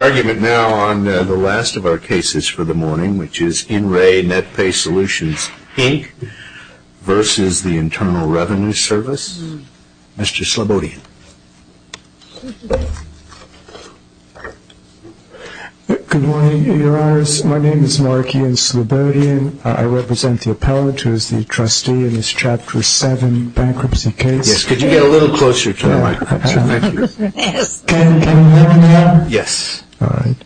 argument now on the last of our cases for the morning, which is In Re Net Pay Solutions Inc versus the Internal Revenue Service. Mr. Slobodian. Good morning, Your Honors. My name is Mark Ian Slobodian. I represent the appellate who is the trustee in this Chapter 7 bankruptcy case. Yes, could you get a little closer to the microphone? Can you hear me now? Yes. All right.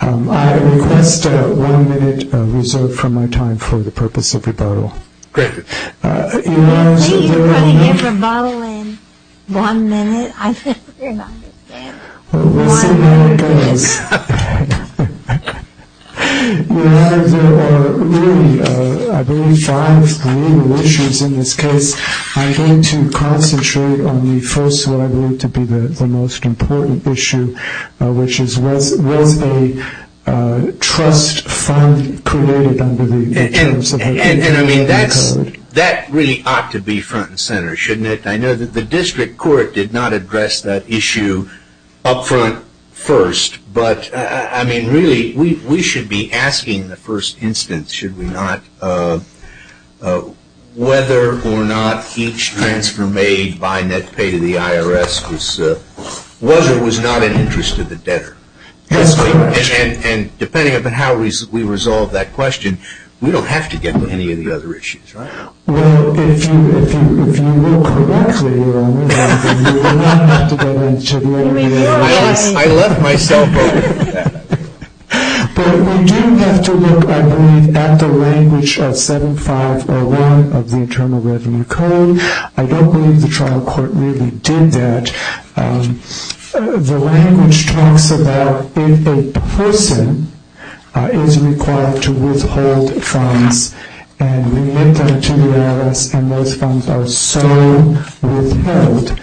I request a one minute reserve from my time for the purpose of rebuttal. Great. You're putting a rebuttal in one minute? I've never heard of that. Well, we'll see how it goes. Well, there are really, I believe, five legal issues in this case. I'm going to concentrate on the first one, which I believe to be the most important issue, which is was a trust fund created under the terms of the ADA? And I mean, that really ought to be front and center, shouldn't it? I know that the district court did not address that issue up front first, but I mean, really, we should be asking the first instance, should we not, whether or not each transfer made by Net Pay to the IRS was or was not an interest to the debtor? Yes. And depending upon how we resolve that question, we don't have to get into any of the other issues, right? Well, if you look correctly, Your Honor, you do not have to get into the other issues. I left myself open to that. But we do have to look, I believe, at the language of 7501 of the Internal Revenue Code. I don't believe the trial court really did that. The language talks about if a person is required to withhold funds, and we get them to the IRS, and those funds are so withheld.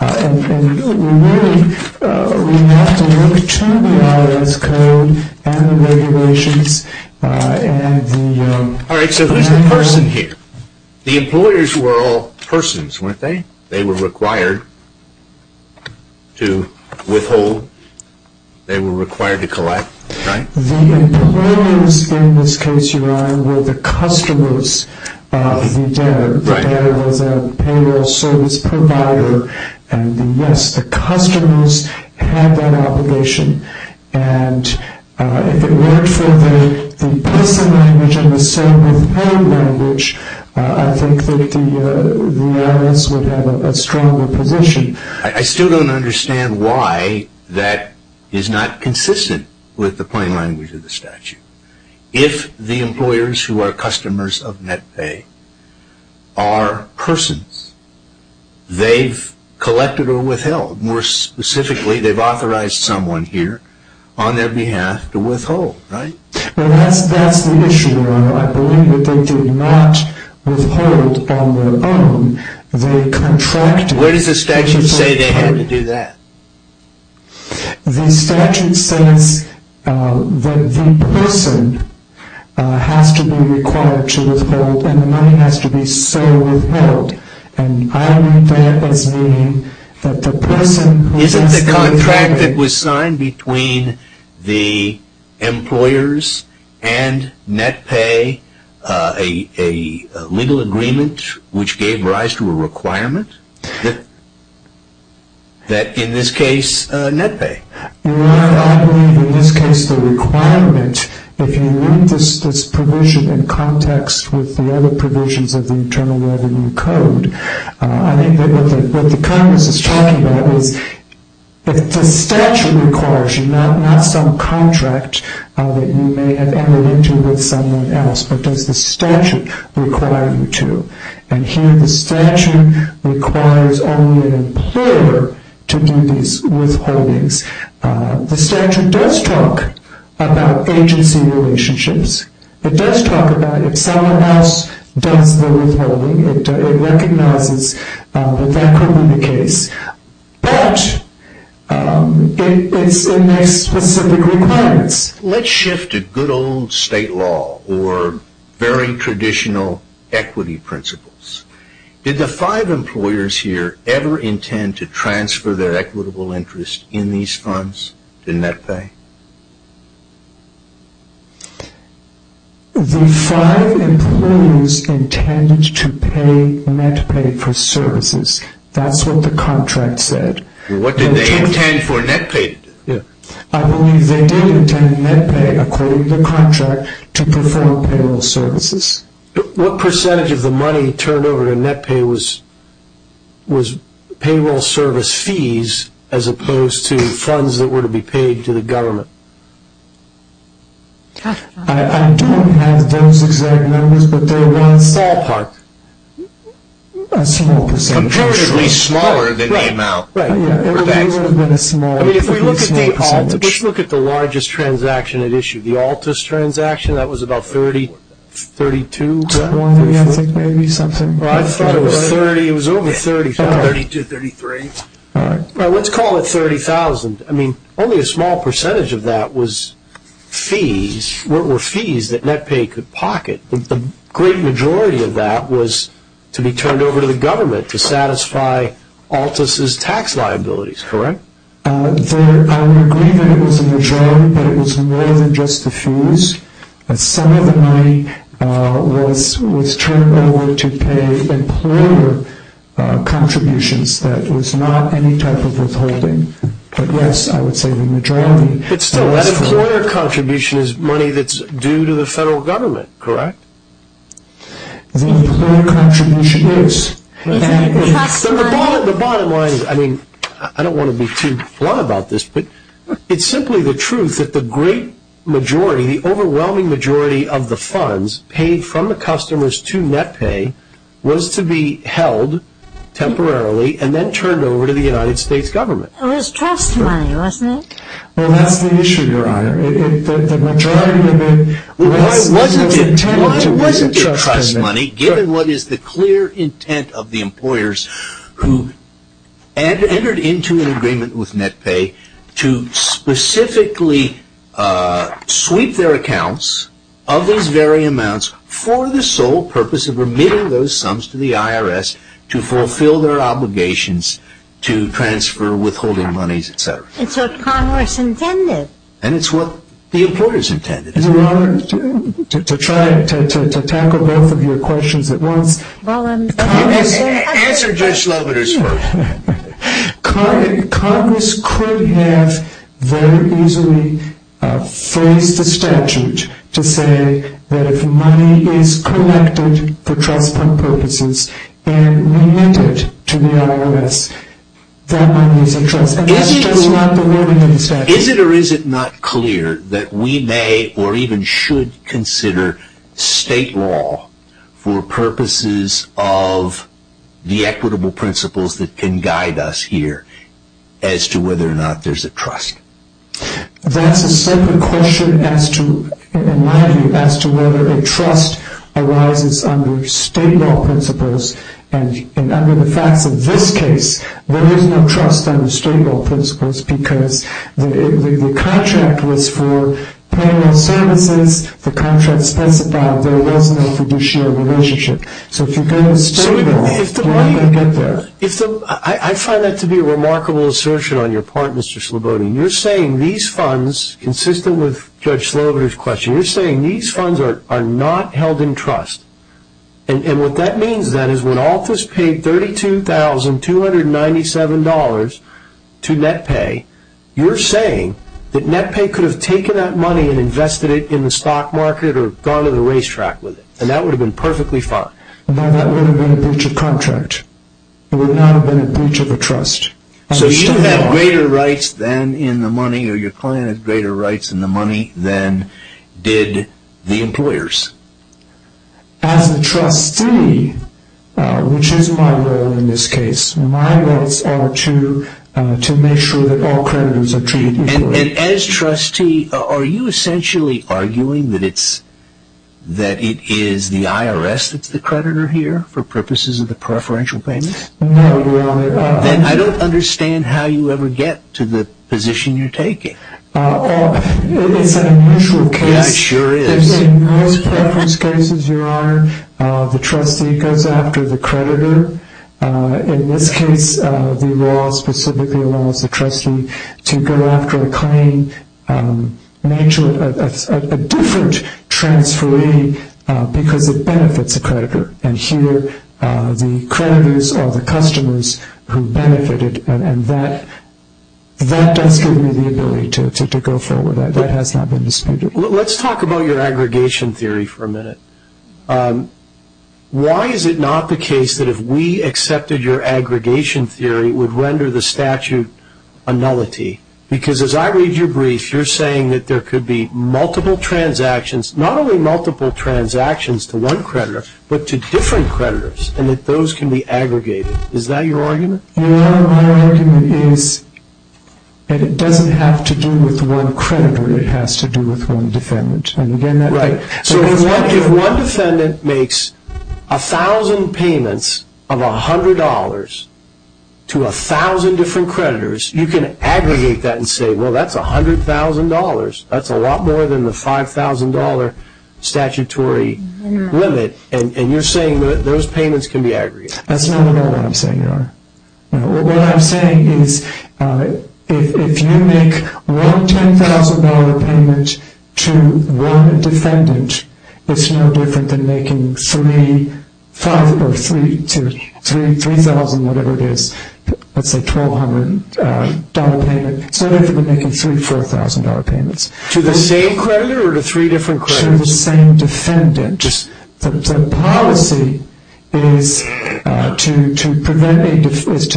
And really, we have to look to the IRS code and the regulations. All right, so who's the person here? The employers were all persons, weren't they? They were required to withhold. They were required to collect, right? The employers, in this case, Your Honor, were the customers of the debtor. The debtor was a payroll service provider. And, yes, the customers had that obligation. And if it weren't for the PISA language and the same with pay language, I think that the IRS would have a stronger position. I still don't understand why that is not consistent with the plain language of the statute. If the employers who are customers of net pay are persons, they've collected or withheld. More specifically, they've authorized someone here on their behalf to withhold, right? Well, that's the issue, Your Honor. I believe that they did not withhold on their own. They contracted. Where does the statute say they had to do that? The statute says that the person has to be required to withhold, and the money has to be so withheld. And I read that as meaning that the person who has contracted. The fact that it was signed between the employers and net pay, a legal agreement which gave rise to a requirement that, in this case, net pay. Your Honor, I believe in this case the requirement, if you read this provision in context with the other provisions of the Internal Revenue Code, I think that what the Congress is talking about is if the statute requires you, not some contract that you may have entered into with someone else, but does the statute require you to? And here the statute requires only an employer to do these withholdings. The statute does talk about agency relationships. It does talk about if someone else does the withholding. It recognizes that that could be the case. But it's in their specific requirements. Let's shift to good old state law or very traditional equity principles. Did the five employers here ever intend to transfer their equitable interest in these funds to net pay? The five employers intended to pay net pay for services. That's what the contract said. What did they intend for net pay? I believe they did intend net pay, according to the contract, to perform payroll services. What percentage of the money turned over to net pay was payroll service fees as opposed to funds that were to be paid to the government? I don't have those exact numbers, but they were a small part. A small percentage. Comparatively smaller than the amount. Right. It would have been a small percentage. Let's look at the largest transaction at issue, the Altus transaction. That was about 30, 32. I think maybe something. I thought it was 30. It was over 30. 32, 33. Let's call it 30,000. Only a small percentage of that were fees that net pay could pocket. The great majority of that was to be turned over to the government to satisfy Altus' tax liabilities, correct? I would agree that it was a majority, but it was more than just the fees. Some of the money was turned over to pay employer contributions. That was not any type of withholding. But, yes, I would say the majority. But still, that employer contribution is money that's due to the federal government, correct? The employer contribution is. The bottom line is, I mean, I don't want to be too blunt about this, but it's simply the truth that the great majority, the overwhelming majority of the funds paid from the customers to net pay was to be held temporarily and then turned over to the United States government. It was trust money, wasn't it? Well, that's the issue, Your Honor. The majority of it was intended to be trust money. Given what is the clear intent of the employers who entered into an agreement with net pay to specifically sweep their accounts of these very amounts for the sole purpose of remitting those sums to the IRS to fulfill their obligations to transfer withholding monies, etc. It's what Congress intended. And it's what the employers intended. Your Honor, to try to tackle both of your questions at once, Congress could have very easily phrased the statute to say that if money is collected for trust fund purposes and remitted to the IRS, that money is a trust fund. That does not belong in the statute. Is it or is it not clear that we may or even should consider state law for purposes of the equitable principles that can guide us here as to whether or not there's a trust? That's a separate question in my view as to whether a trust arises under state law principles. And under the facts of this case, there is no trust under state law principles because the contract was for payroll services. The contract specified there was no fiduciary relationship. So if you go to state law, you're not going to get there. I find that to be a remarkable assertion on your part, Mr. Slobodin. You're saying these funds, consistent with Judge Slobodin's question, you're saying these funds are not held in trust. And what that means then is when office paid $32,297 to NetPay, you're saying that NetPay could have taken that money and invested it in the stock market or gone to the racetrack with it, and that would have been perfectly fine. No, that would have been a breach of contract. It would not have been a breach of a trust. So you have greater rights than in the money or your client has greater rights in the money than did the employers. As a trustee, which is my role in this case, my roles are to make sure that all creditors are treated equally. And as trustee, are you essentially arguing that it is the IRS that's the creditor here for purposes of the preferential payments? No, Your Honor. Then I don't understand how you ever get to the position you're taking. It's an unusual case. It sure is. In most preference cases, Your Honor, the trustee goes after the creditor. In this case, the law specifically allows the trustee to go after a claim, make sure it's a different transferee because it benefits the creditor. And here the creditors are the customers who benefited, and that does give me the ability to go forward. That has not been disputed. Let's talk about your aggregation theory for a minute. Why is it not the case that if we accepted your aggregation theory, it would render the statute a nullity? Because as I read your brief, you're saying that there could be multiple transactions, not only multiple transactions to one creditor, but to different creditors, and that those can be aggregated. Is that your argument? Your argument is that it doesn't have to do with one creditor. It has to do with one defendant. Right. So if one defendant makes 1,000 payments of $100 to 1,000 different creditors, you can aggregate that and say, well, that's $100,000. That's a lot more than the $5,000 statutory limit, and you're saying that those payments can be aggregated. That's not at all what I'm saying. What I'm saying is if you make one $10,000 payment to one defendant, it's no different than making 3,000, whatever it is, let's say $1,200 payment. It's no different than making three $4,000 payments. To the same creditor or to three different creditors? To the same defendant. The policy is to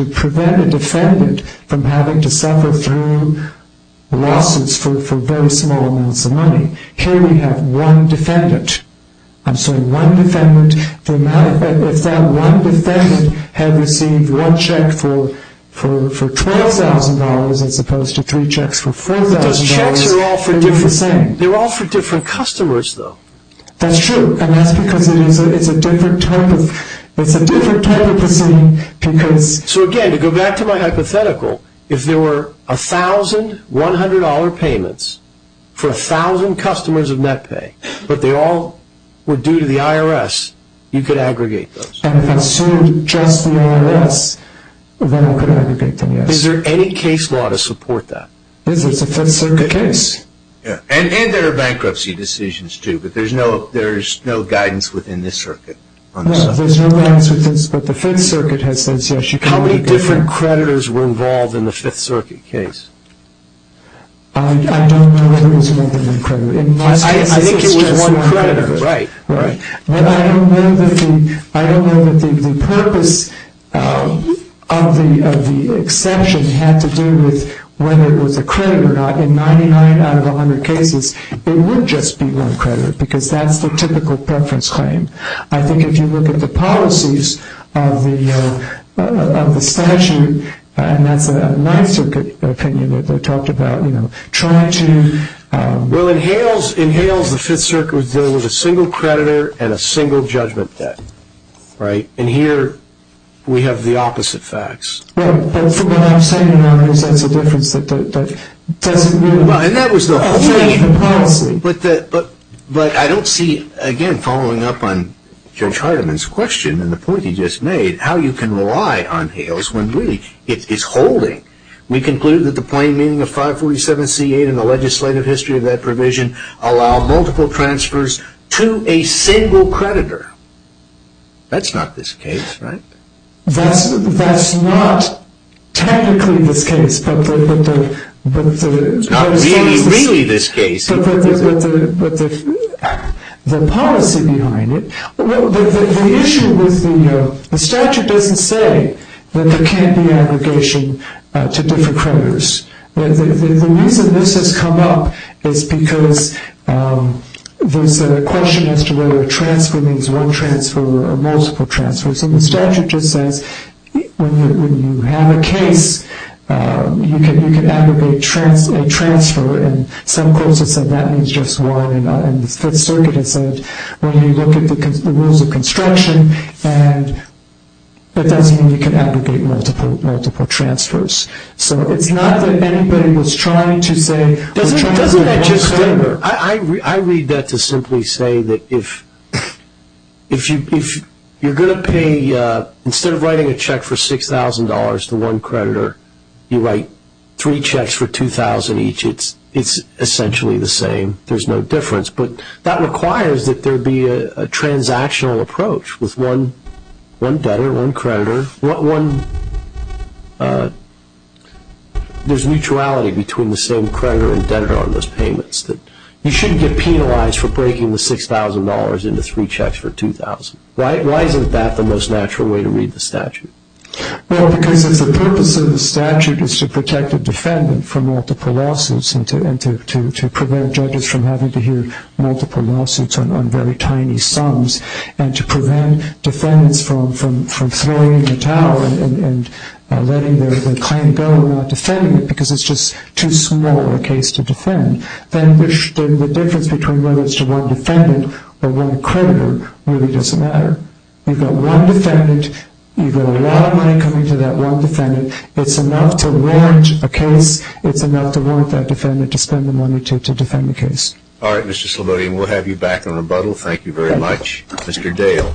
prevent a defendant from having to suffer through losses for very small amounts of money. Here we have one defendant. I'm sorry, one defendant. If that one defendant had received one check for $12,000 as opposed to three checks for $4,000, they're the same. They're all for different customers, though. That's true, and that's because it's a different type of proceeding. Again, to go back to my hypothetical, if there were 1,000 $100 payments for 1,000 customers of NetPay, but they all were due to the IRS, you could aggregate those. If I sued just the IRS, then I could aggregate them, yes. Is there any case law to support that? There's a Fifth Circuit case. And there are bankruptcy decisions, too, but there's no guidance within this circuit. No, there's no guidance within this, but the Fifth Circuit has said, yes, you can. How many different creditors were involved in the Fifth Circuit case? I don't know whether it was more than one creditor. I think it was just one creditor. Right. I don't know that the purpose of the exception had to do with whether it was a credit or not. In 99 out of 100 cases, it would just be one creditor because that's the typical preference claim. I think if you look at the policies of the statute, and that's a Ninth Circuit opinion that they talked about, trying to – Well, in Hales, the Fifth Circuit was dealing with a single creditor and a single judgment debt, right? And here we have the opposite facts. Well, from what I'm saying now is that's a difference that doesn't really – Well, and that was the whole thing. But I don't see, again, following up on Judge Hartiman's question and the point he just made, how you can rely on Hales when really it is holding. We concluded that the plain meaning of 547C8 and the legislative history of that provision allow multiple transfers to a single creditor. That's not this case, right? That's not technically this case, but the – It's not really, really this case. But the policy behind it – The issue with the statute doesn't say that there can't be aggregation to different creditors. The reason this has come up is because there's a question as to whether a transfer means one transfer or multiple transfers, and the statute just says when you have a case, you can aggregate a transfer, and some courts have said that means just one, and the Fifth Circuit has said when you look at the rules of construction, that doesn't mean you can aggregate multiple transfers. So it's not that anybody was trying to say – I read that to simply say that if you're going to pay – instead of writing a check for $6,000 to one creditor, you write three checks for $2,000 each. It's essentially the same. There's no difference. But that requires that there be a transactional approach with one debtor, one creditor, one – there's neutrality between the same creditor and debtor on those payments. You shouldn't get penalized for breaking the $6,000 into three checks for $2,000. Why isn't that the most natural way to read the statute? Well, because if the purpose of the statute is to protect a defendant from multiple lawsuits and to prevent judges from having to hear multiple lawsuits on very tiny sums, and to prevent defendants from throwing in the towel and letting their claim go and not defending it because it's just too small a case to defend, then the difference between whether it's to one defendant or one creditor really doesn't matter. You've got one defendant. You've got a lot of money coming to that one defendant. It's enough to warrant a case. It's enough to warrant that defendant to spend the money to defend the case. All right, Mr. Slobodian, we'll have you back in rebuttal. Thank you very much. Mr. Dale.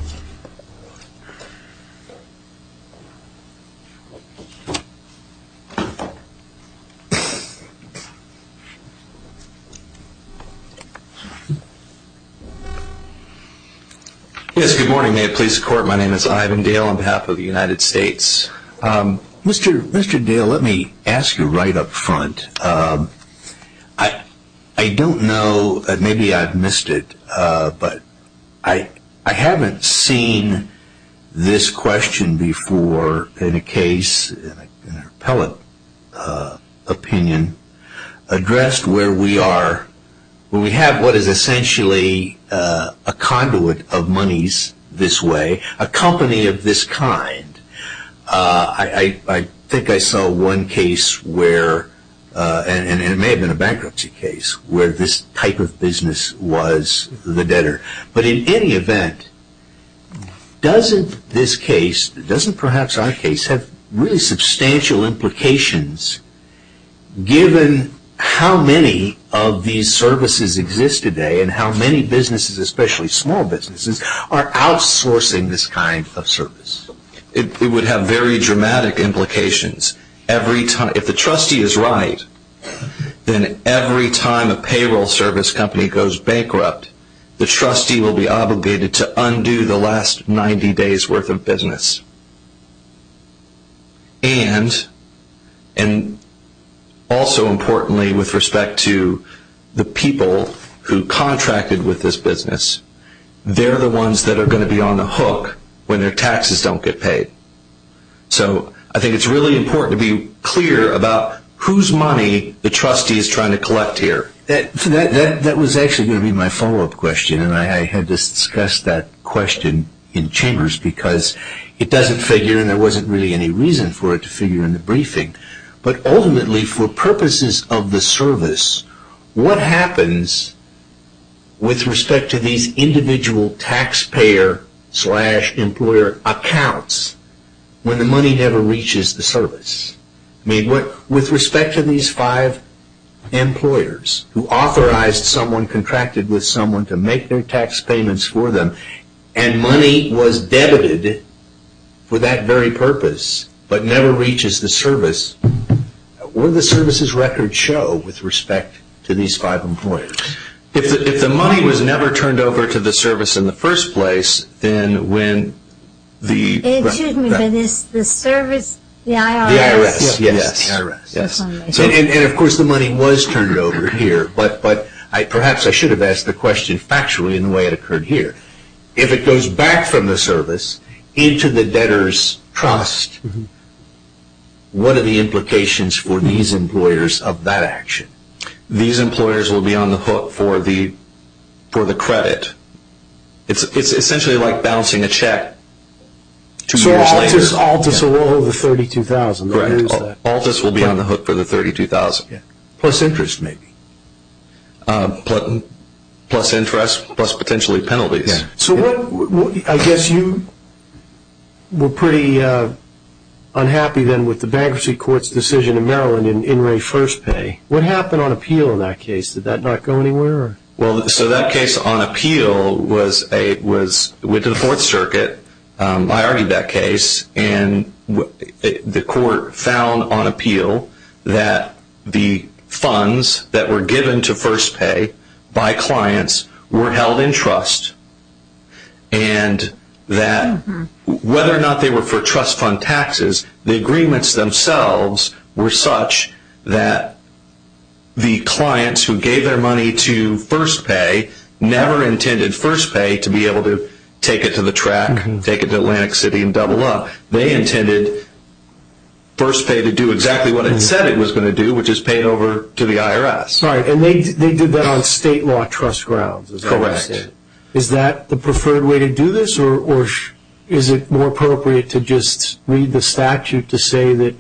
Yes, good morning. May it please the Court, my name is Ivan Dale on behalf of the United States. Mr. Dale, let me ask you right up front. I don't know, maybe I've missed it, but I haven't seen this question before in a case, in an appellate opinion, addressed where we have what is essentially a conduit of monies this way, a company of this kind. I think I saw one case where, and it may have been a bankruptcy case, where this type of business was the debtor. But in any event, doesn't this case, doesn't perhaps our case, have really substantial implications given how many of these services exist today and how many businesses, especially small businesses, are outsourcing this kind of service? It would have very dramatic implications. If the trustee is right, then every time a payroll service company goes bankrupt, the trustee will be obligated to undo the last 90 days' worth of business. And also importantly with respect to the people who contracted with this business, they're the ones that are going to be on the hook when their taxes don't get paid. So I think it's really important to be clear about whose money the trustee is trying to collect here. That was actually going to be my follow-up question, and I had discussed that question in chambers because it doesn't figure, and there wasn't really any reason for it to figure in the briefing. But ultimately for purposes of the service, what happens with respect to these individual taxpayer slash employer accounts when the money never reaches the service? With respect to these five employers who authorized someone contracted with someone to make their tax payments for them, and money was debited for that very purpose but never reaches the service, what do the services records show with respect to these five employers? If the money was never turned over to the service in the first place, then when the... Excuse me, but is the service the IRS? The IRS, yes. And of course the money was turned over here, but perhaps I should have asked the question factually in the way it occurred here. If it goes back from the service into the debtor's trust, what are the implications for these employers of that action? These employers will be on the hook for the credit. It's essentially like balancing a check two years later. So Altus will owe the $32,000. Correct. Altus will be on the hook for the $32,000. Plus interest, maybe. Plus interest, plus potentially penalties. So I guess you were pretty unhappy then with the bankruptcy court's decision in Maryland in Ray First Pay. What happened on appeal in that case? Did that not go anywhere? Well, so that case on appeal went to the Fourth Circuit. I argued that case, and the court found on appeal that the funds that were given to First Pay by clients were held in trust and that whether or not they were for trust fund taxes, the agreements themselves were such that the clients who gave their money to First Pay never intended First Pay to be able to take it to the track, take it to Atlantic City and double up. They intended First Pay to do exactly what it said it was going to do, which is pay it over to the IRS. Right, and they did that on state law trust grounds. Correct. Is that the preferred way to do this, or is it more appropriate to just read the statute to say that,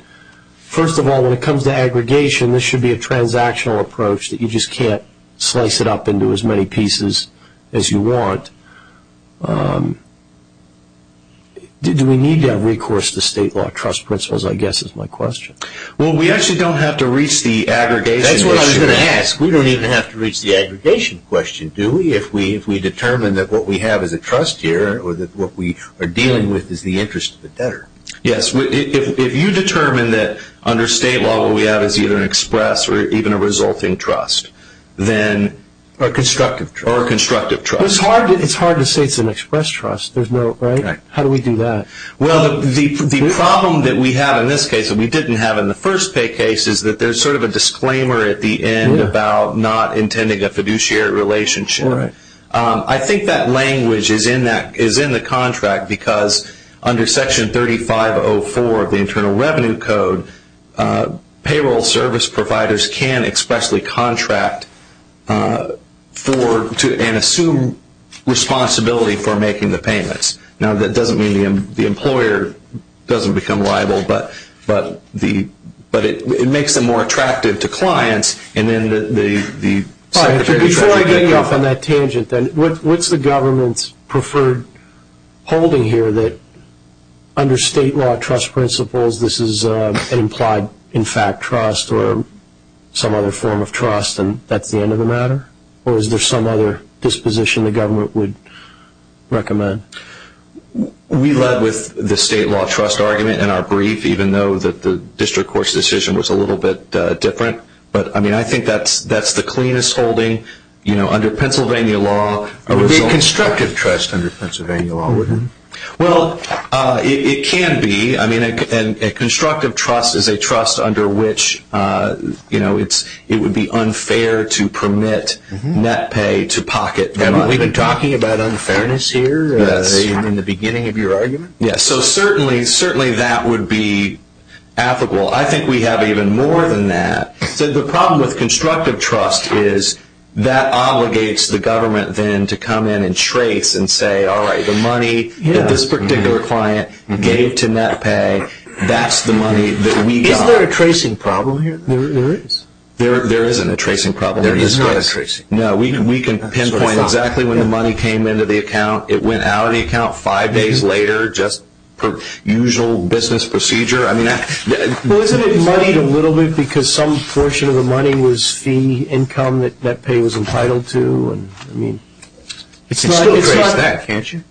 first of all, when it comes to aggregation, this should be a transactional approach, that you just can't slice it up into as many pieces as you want? Do we need to have recourse to state law trust principles, I guess, is my question. Well, we actually don't have to reach the aggregation question. That's what I was going to ask. We don't even have to reach the aggregation question, do we, if we determine that what we have is a trust here or that what we are dealing with is the interest of the debtor? Yes. If you determine that under state law what we have is either an express or even a resulting trust, then... Or a constructive trust. Or a constructive trust. It's hard to say it's an express trust, right? How do we do that? Well, the problem that we have in this case that we didn't have in the First Pay case is that there's sort of a disclaimer at the end about not intending a fiduciary relationship. I think that language is in the contract because under Section 3504 of the Internal Revenue Code, payroll service providers can expressly contract and assume responsibility for making the payments. Now, that doesn't mean the employer doesn't become liable, but it makes them more attractive to clients. Before I get off on that tangent then, what's the government's preferred holding here that under state law trust principles, this is an implied in fact trust or some other form of trust and that's the end of the matter? Or is there some other disposition the government would recommend? We led with the state law trust argument in our brief, even though the district court's decision was a little bit different. I think that's the cleanest holding under Pennsylvania law. It would be a constructive trust under Pennsylvania law, wouldn't it? Well, it can be. A constructive trust is a trust under which it would be unfair to permit net pay to pocket. Are we talking about unfairness here in the beginning of your argument? Yes, so certainly that would be ethical. I think we have even more than that. So the problem with constructive trust is that obligates the government then to come in and trace and say, all right, the money that this particular client gave to net pay, that's the money that we got. Isn't there a tracing problem here? There is. There isn't a tracing problem. There is not a tracing. No, we can pinpoint exactly when the money came into the account. It went out of the account five days later just per usual business procedure. Well, isn't it moneyed a little bit because some portion of the money was fee income that net pay was entitled to? It still traces that, can't you?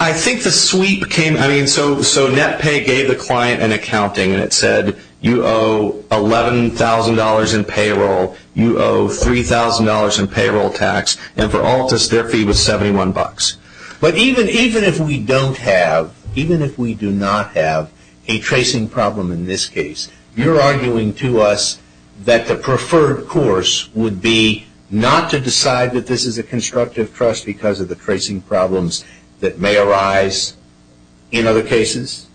I think the sweep came. So net pay gave the client an accounting, and it said you owe $11,000 in payroll, you owe $3,000 in payroll tax, and for Altus their fee was $71. But even if we don't have, even if we do not have a tracing problem in this case, you're arguing to us that the preferred course would be not to decide that this is a constructive trust because of the tracing problems that may arise in other cases?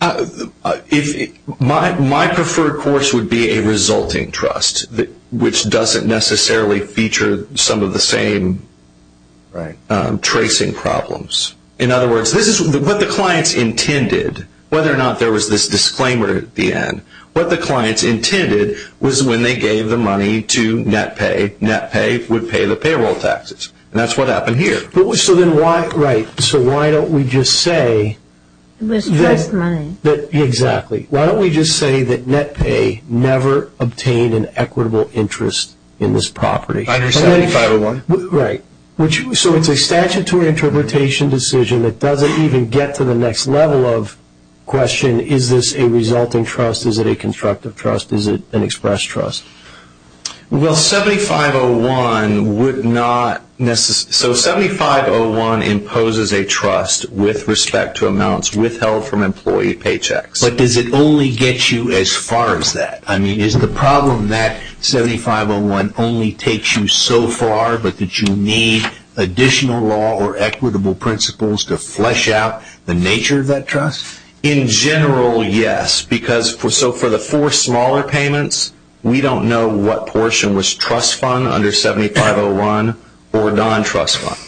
My preferred course would be a resulting trust, which doesn't necessarily feature some of the same tracing problems. In other words, this is what the clients intended, whether or not there was this disclaimer at the end. What the clients intended was when they gave the money to net pay, net pay would pay the payroll taxes, and that's what happened here. So why don't we just say that net pay never obtained an equitable interest in this property? Under 7501. Right. So it's a statutory interpretation decision that doesn't even get to the next level of question, is this a resulting trust, is it a constructive trust, is it an express trust? Well, 7501 would not necessarily, so 7501 imposes a trust with respect to amounts withheld from employee paychecks. But does it only get you as far as that? I mean, is the problem that 7501 only takes you so far, but that you need additional law or equitable principles to flesh out the nature of that trust? In general, yes. So for the four smaller payments, we don't know what portion was trust fund under 7501 or non-trust fund.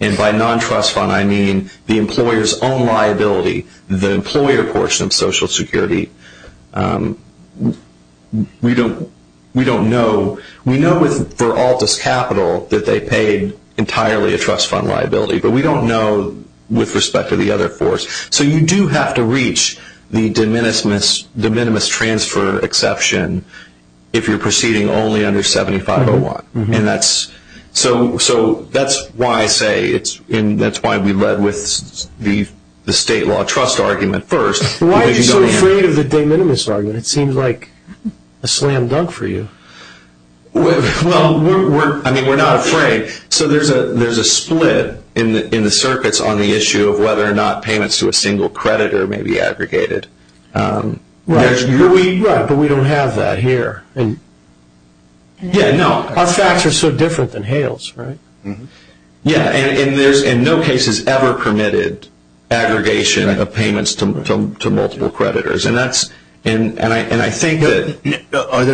And by non-trust fund, I mean the employer's own liability, the employer portion of Social Security. We don't know. We know for Altus Capital that they paid entirely a trust fund liability, but we don't know with respect to the other four. So you do have to reach the de minimis transfer exception if you're proceeding only under 7501. And that's why I say, and that's why we led with the state law trust argument first. Why are you so afraid of the de minimis argument? It seems like a slam dunk for you. Well, I mean, we're not afraid. So there's a split in the circuits on the issue of whether or not payments to a single creditor may be aggregated. Right, but we don't have that here. Our facts are so different than Hale's, right? Yeah, and no case has ever permitted aggregation of payments to multiple creditors. Are there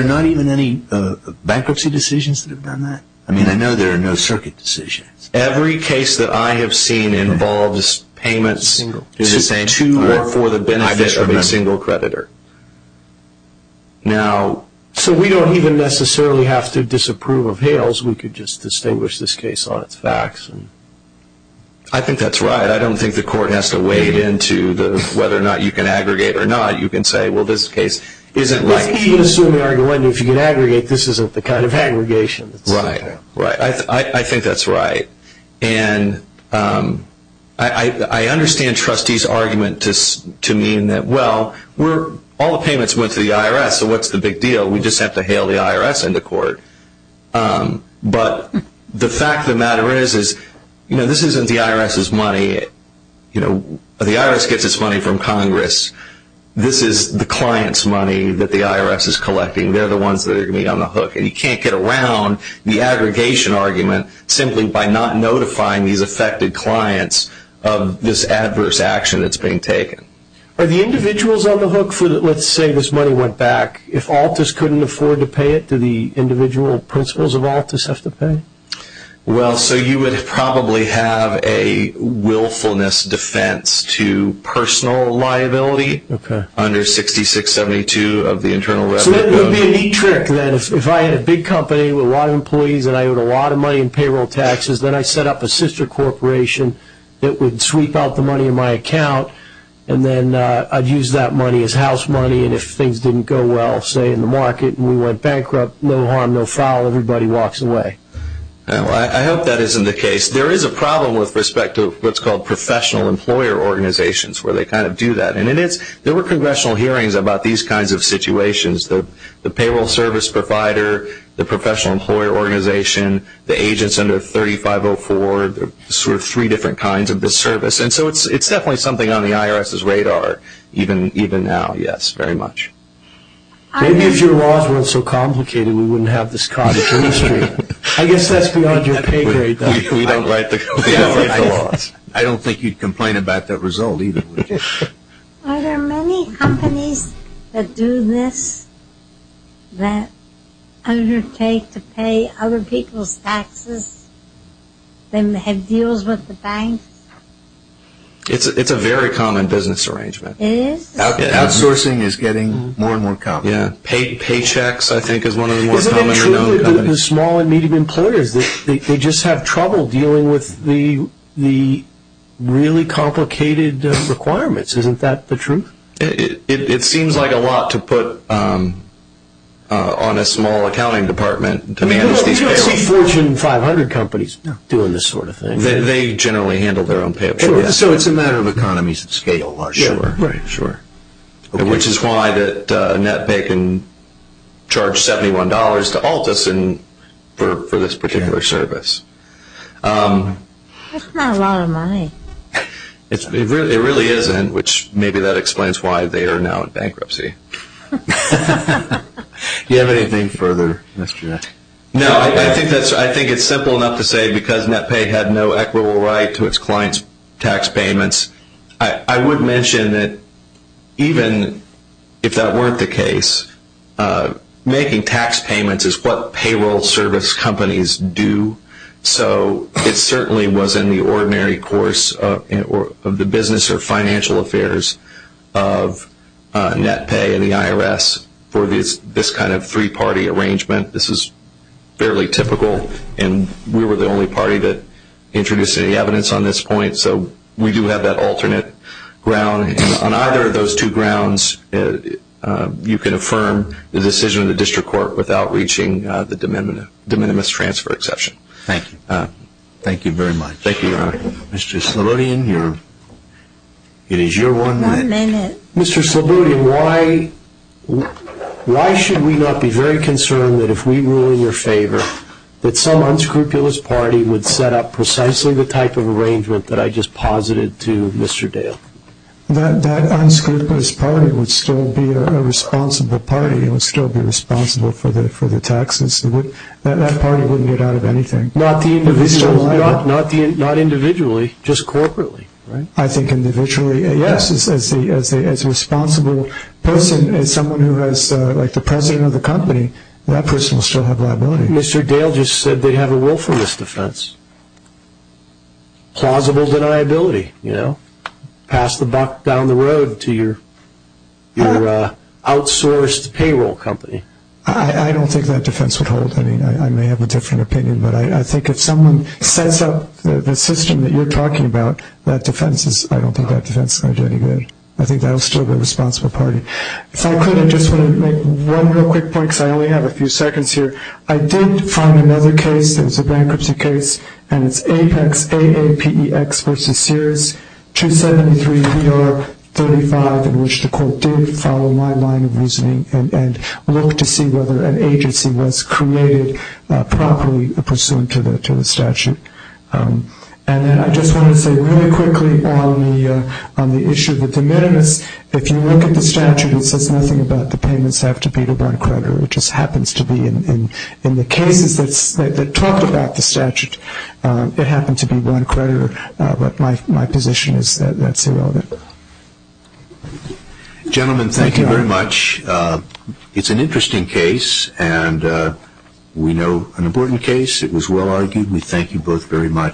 not even any bankruptcy decisions that have done that? I mean, I know there are no circuit decisions. Every case that I have seen involves payments to or for the benefit of a single creditor. So we don't even necessarily have to disapprove of Hale's. We could just distinguish this case on its facts. I think that's right. I don't think the court has to wade into whether or not you can aggregate or not. You can say, well, this case isn't right. I think you can assume the argument that if you can aggregate, this isn't the kind of aggregation. Right, right. I think that's right. And I understand Trustee's argument to mean that, well, all the payments went to the IRS, so what's the big deal? We just have to hail the IRS into court. But the fact of the matter is this isn't the IRS's money. The IRS gets its money from Congress. This is the client's money that the IRS is collecting. They're the ones that are going to be on the hook. And you can't get around the aggregation argument simply by not notifying these affected clients of this adverse action that's being taken. Are the individuals on the hook for, let's say this money went back, if Altus couldn't afford to pay it, do the individual principals of Altus have to pay? Well, so you would probably have a willfulness defense to personal liability under 6672 of the Internal Revenue Code. So that would be a neat trick then. If I had a big company with a lot of employees and I owed a lot of money in payroll taxes, then I set up a sister corporation that would sweep out the money in my account, and then I'd use that money as house money, and if things didn't go well, let's say in the market and we went bankrupt, no harm, no foul, everybody walks away. Well, I hope that isn't the case. There is a problem with respect to what's called professional employer organizations where they kind of do that. And there were congressional hearings about these kinds of situations, the payroll service provider, the professional employer organization, the agents under 3504, sort of three different kinds of the service. And so it's definitely something on the IRS's radar even now, yes, very much. Maybe if your laws weren't so complicated, we wouldn't have this kind of chemistry. I guess that's beyond your pay grade, though. We don't write the laws. I don't think you'd complain about that result either. Are there many companies that do this, that undertake to pay other people's taxes, and have deals with the banks? It's a very common business arrangement. It is? Outsourcing is getting more and more common. Yeah. Paychecks, I think, is one of the more common or known companies. Isn't it true that the small and medium employers, they just have trouble dealing with the really complicated requirements? Isn't that the truth? It seems like a lot to put on a small accounting department to manage these payrolls. I don't see Fortune 500 companies doing this sort of thing. They generally handle their own payrolls. So it's a matter of economies of scale. Right, sure. Which is why NetPay can charge $71 to Altus for this particular service. That's not a lot of money. It really isn't, which maybe that explains why they are now in bankruptcy. Do you have anything further? No. I think it's simple enough to say because NetPay had no equitable right to its clients' tax payments. I would mention that even if that weren't the case, making tax payments is what payroll service companies do. So it certainly wasn't the ordinary course of the business or financial affairs of NetPay and the IRS for this kind of three-party arrangement. This is fairly typical, and we were the only party that introduced any evidence on this point. So we do have that alternate ground. On either of those two grounds, you can affirm the decision of the district court without reaching the de minimis transfer exception. Thank you. Thank you very much. Thank you, Your Honor. Mr. Slobodian, it is your one minute. Mr. Slobodian, why should we not be very concerned that if we rule in your favor, that some unscrupulous party would set up precisely the type of arrangement that I just posited to Mr. Dale? That unscrupulous party would still be a responsible party. It would still be responsible for the taxes. That party wouldn't get out of anything. Not individually, just corporately, right? I think individually, yes. As a responsible person, as someone who has, like the president of the company, that person will still have liability. Mr. Dale just said they have a willfulness defense. Plausible deniability, you know? Pass the buck down the road to your outsourced payroll company. I don't think that defense would hold. I mean, I may have a different opinion, but I think if someone sets up the system that you're talking about, that defense is, I don't think that defense is going to do any good. I think that will still be a responsible party. If I could, I just want to make one real quick point because I only have a few seconds here. I did find another case. It was a bankruptcy case, and it's APEX, A-A-P-E-X versus Sears, 273 VR 35, in which the court did follow my line of reasoning and looked to see whether an agency was created properly pursuant to the statute. And then I just want to say really quickly on the issue of the de minimis, if you look at the statute, it says nothing about the payments have to be to bond credit, or it just happens to be in the cases that talk about the statute. It happened to be bond credit, but my position is that that's irrelevant. Gentlemen, thank you very much. It's an interesting case, and we know an important case. It was well argued. We thank you both very much.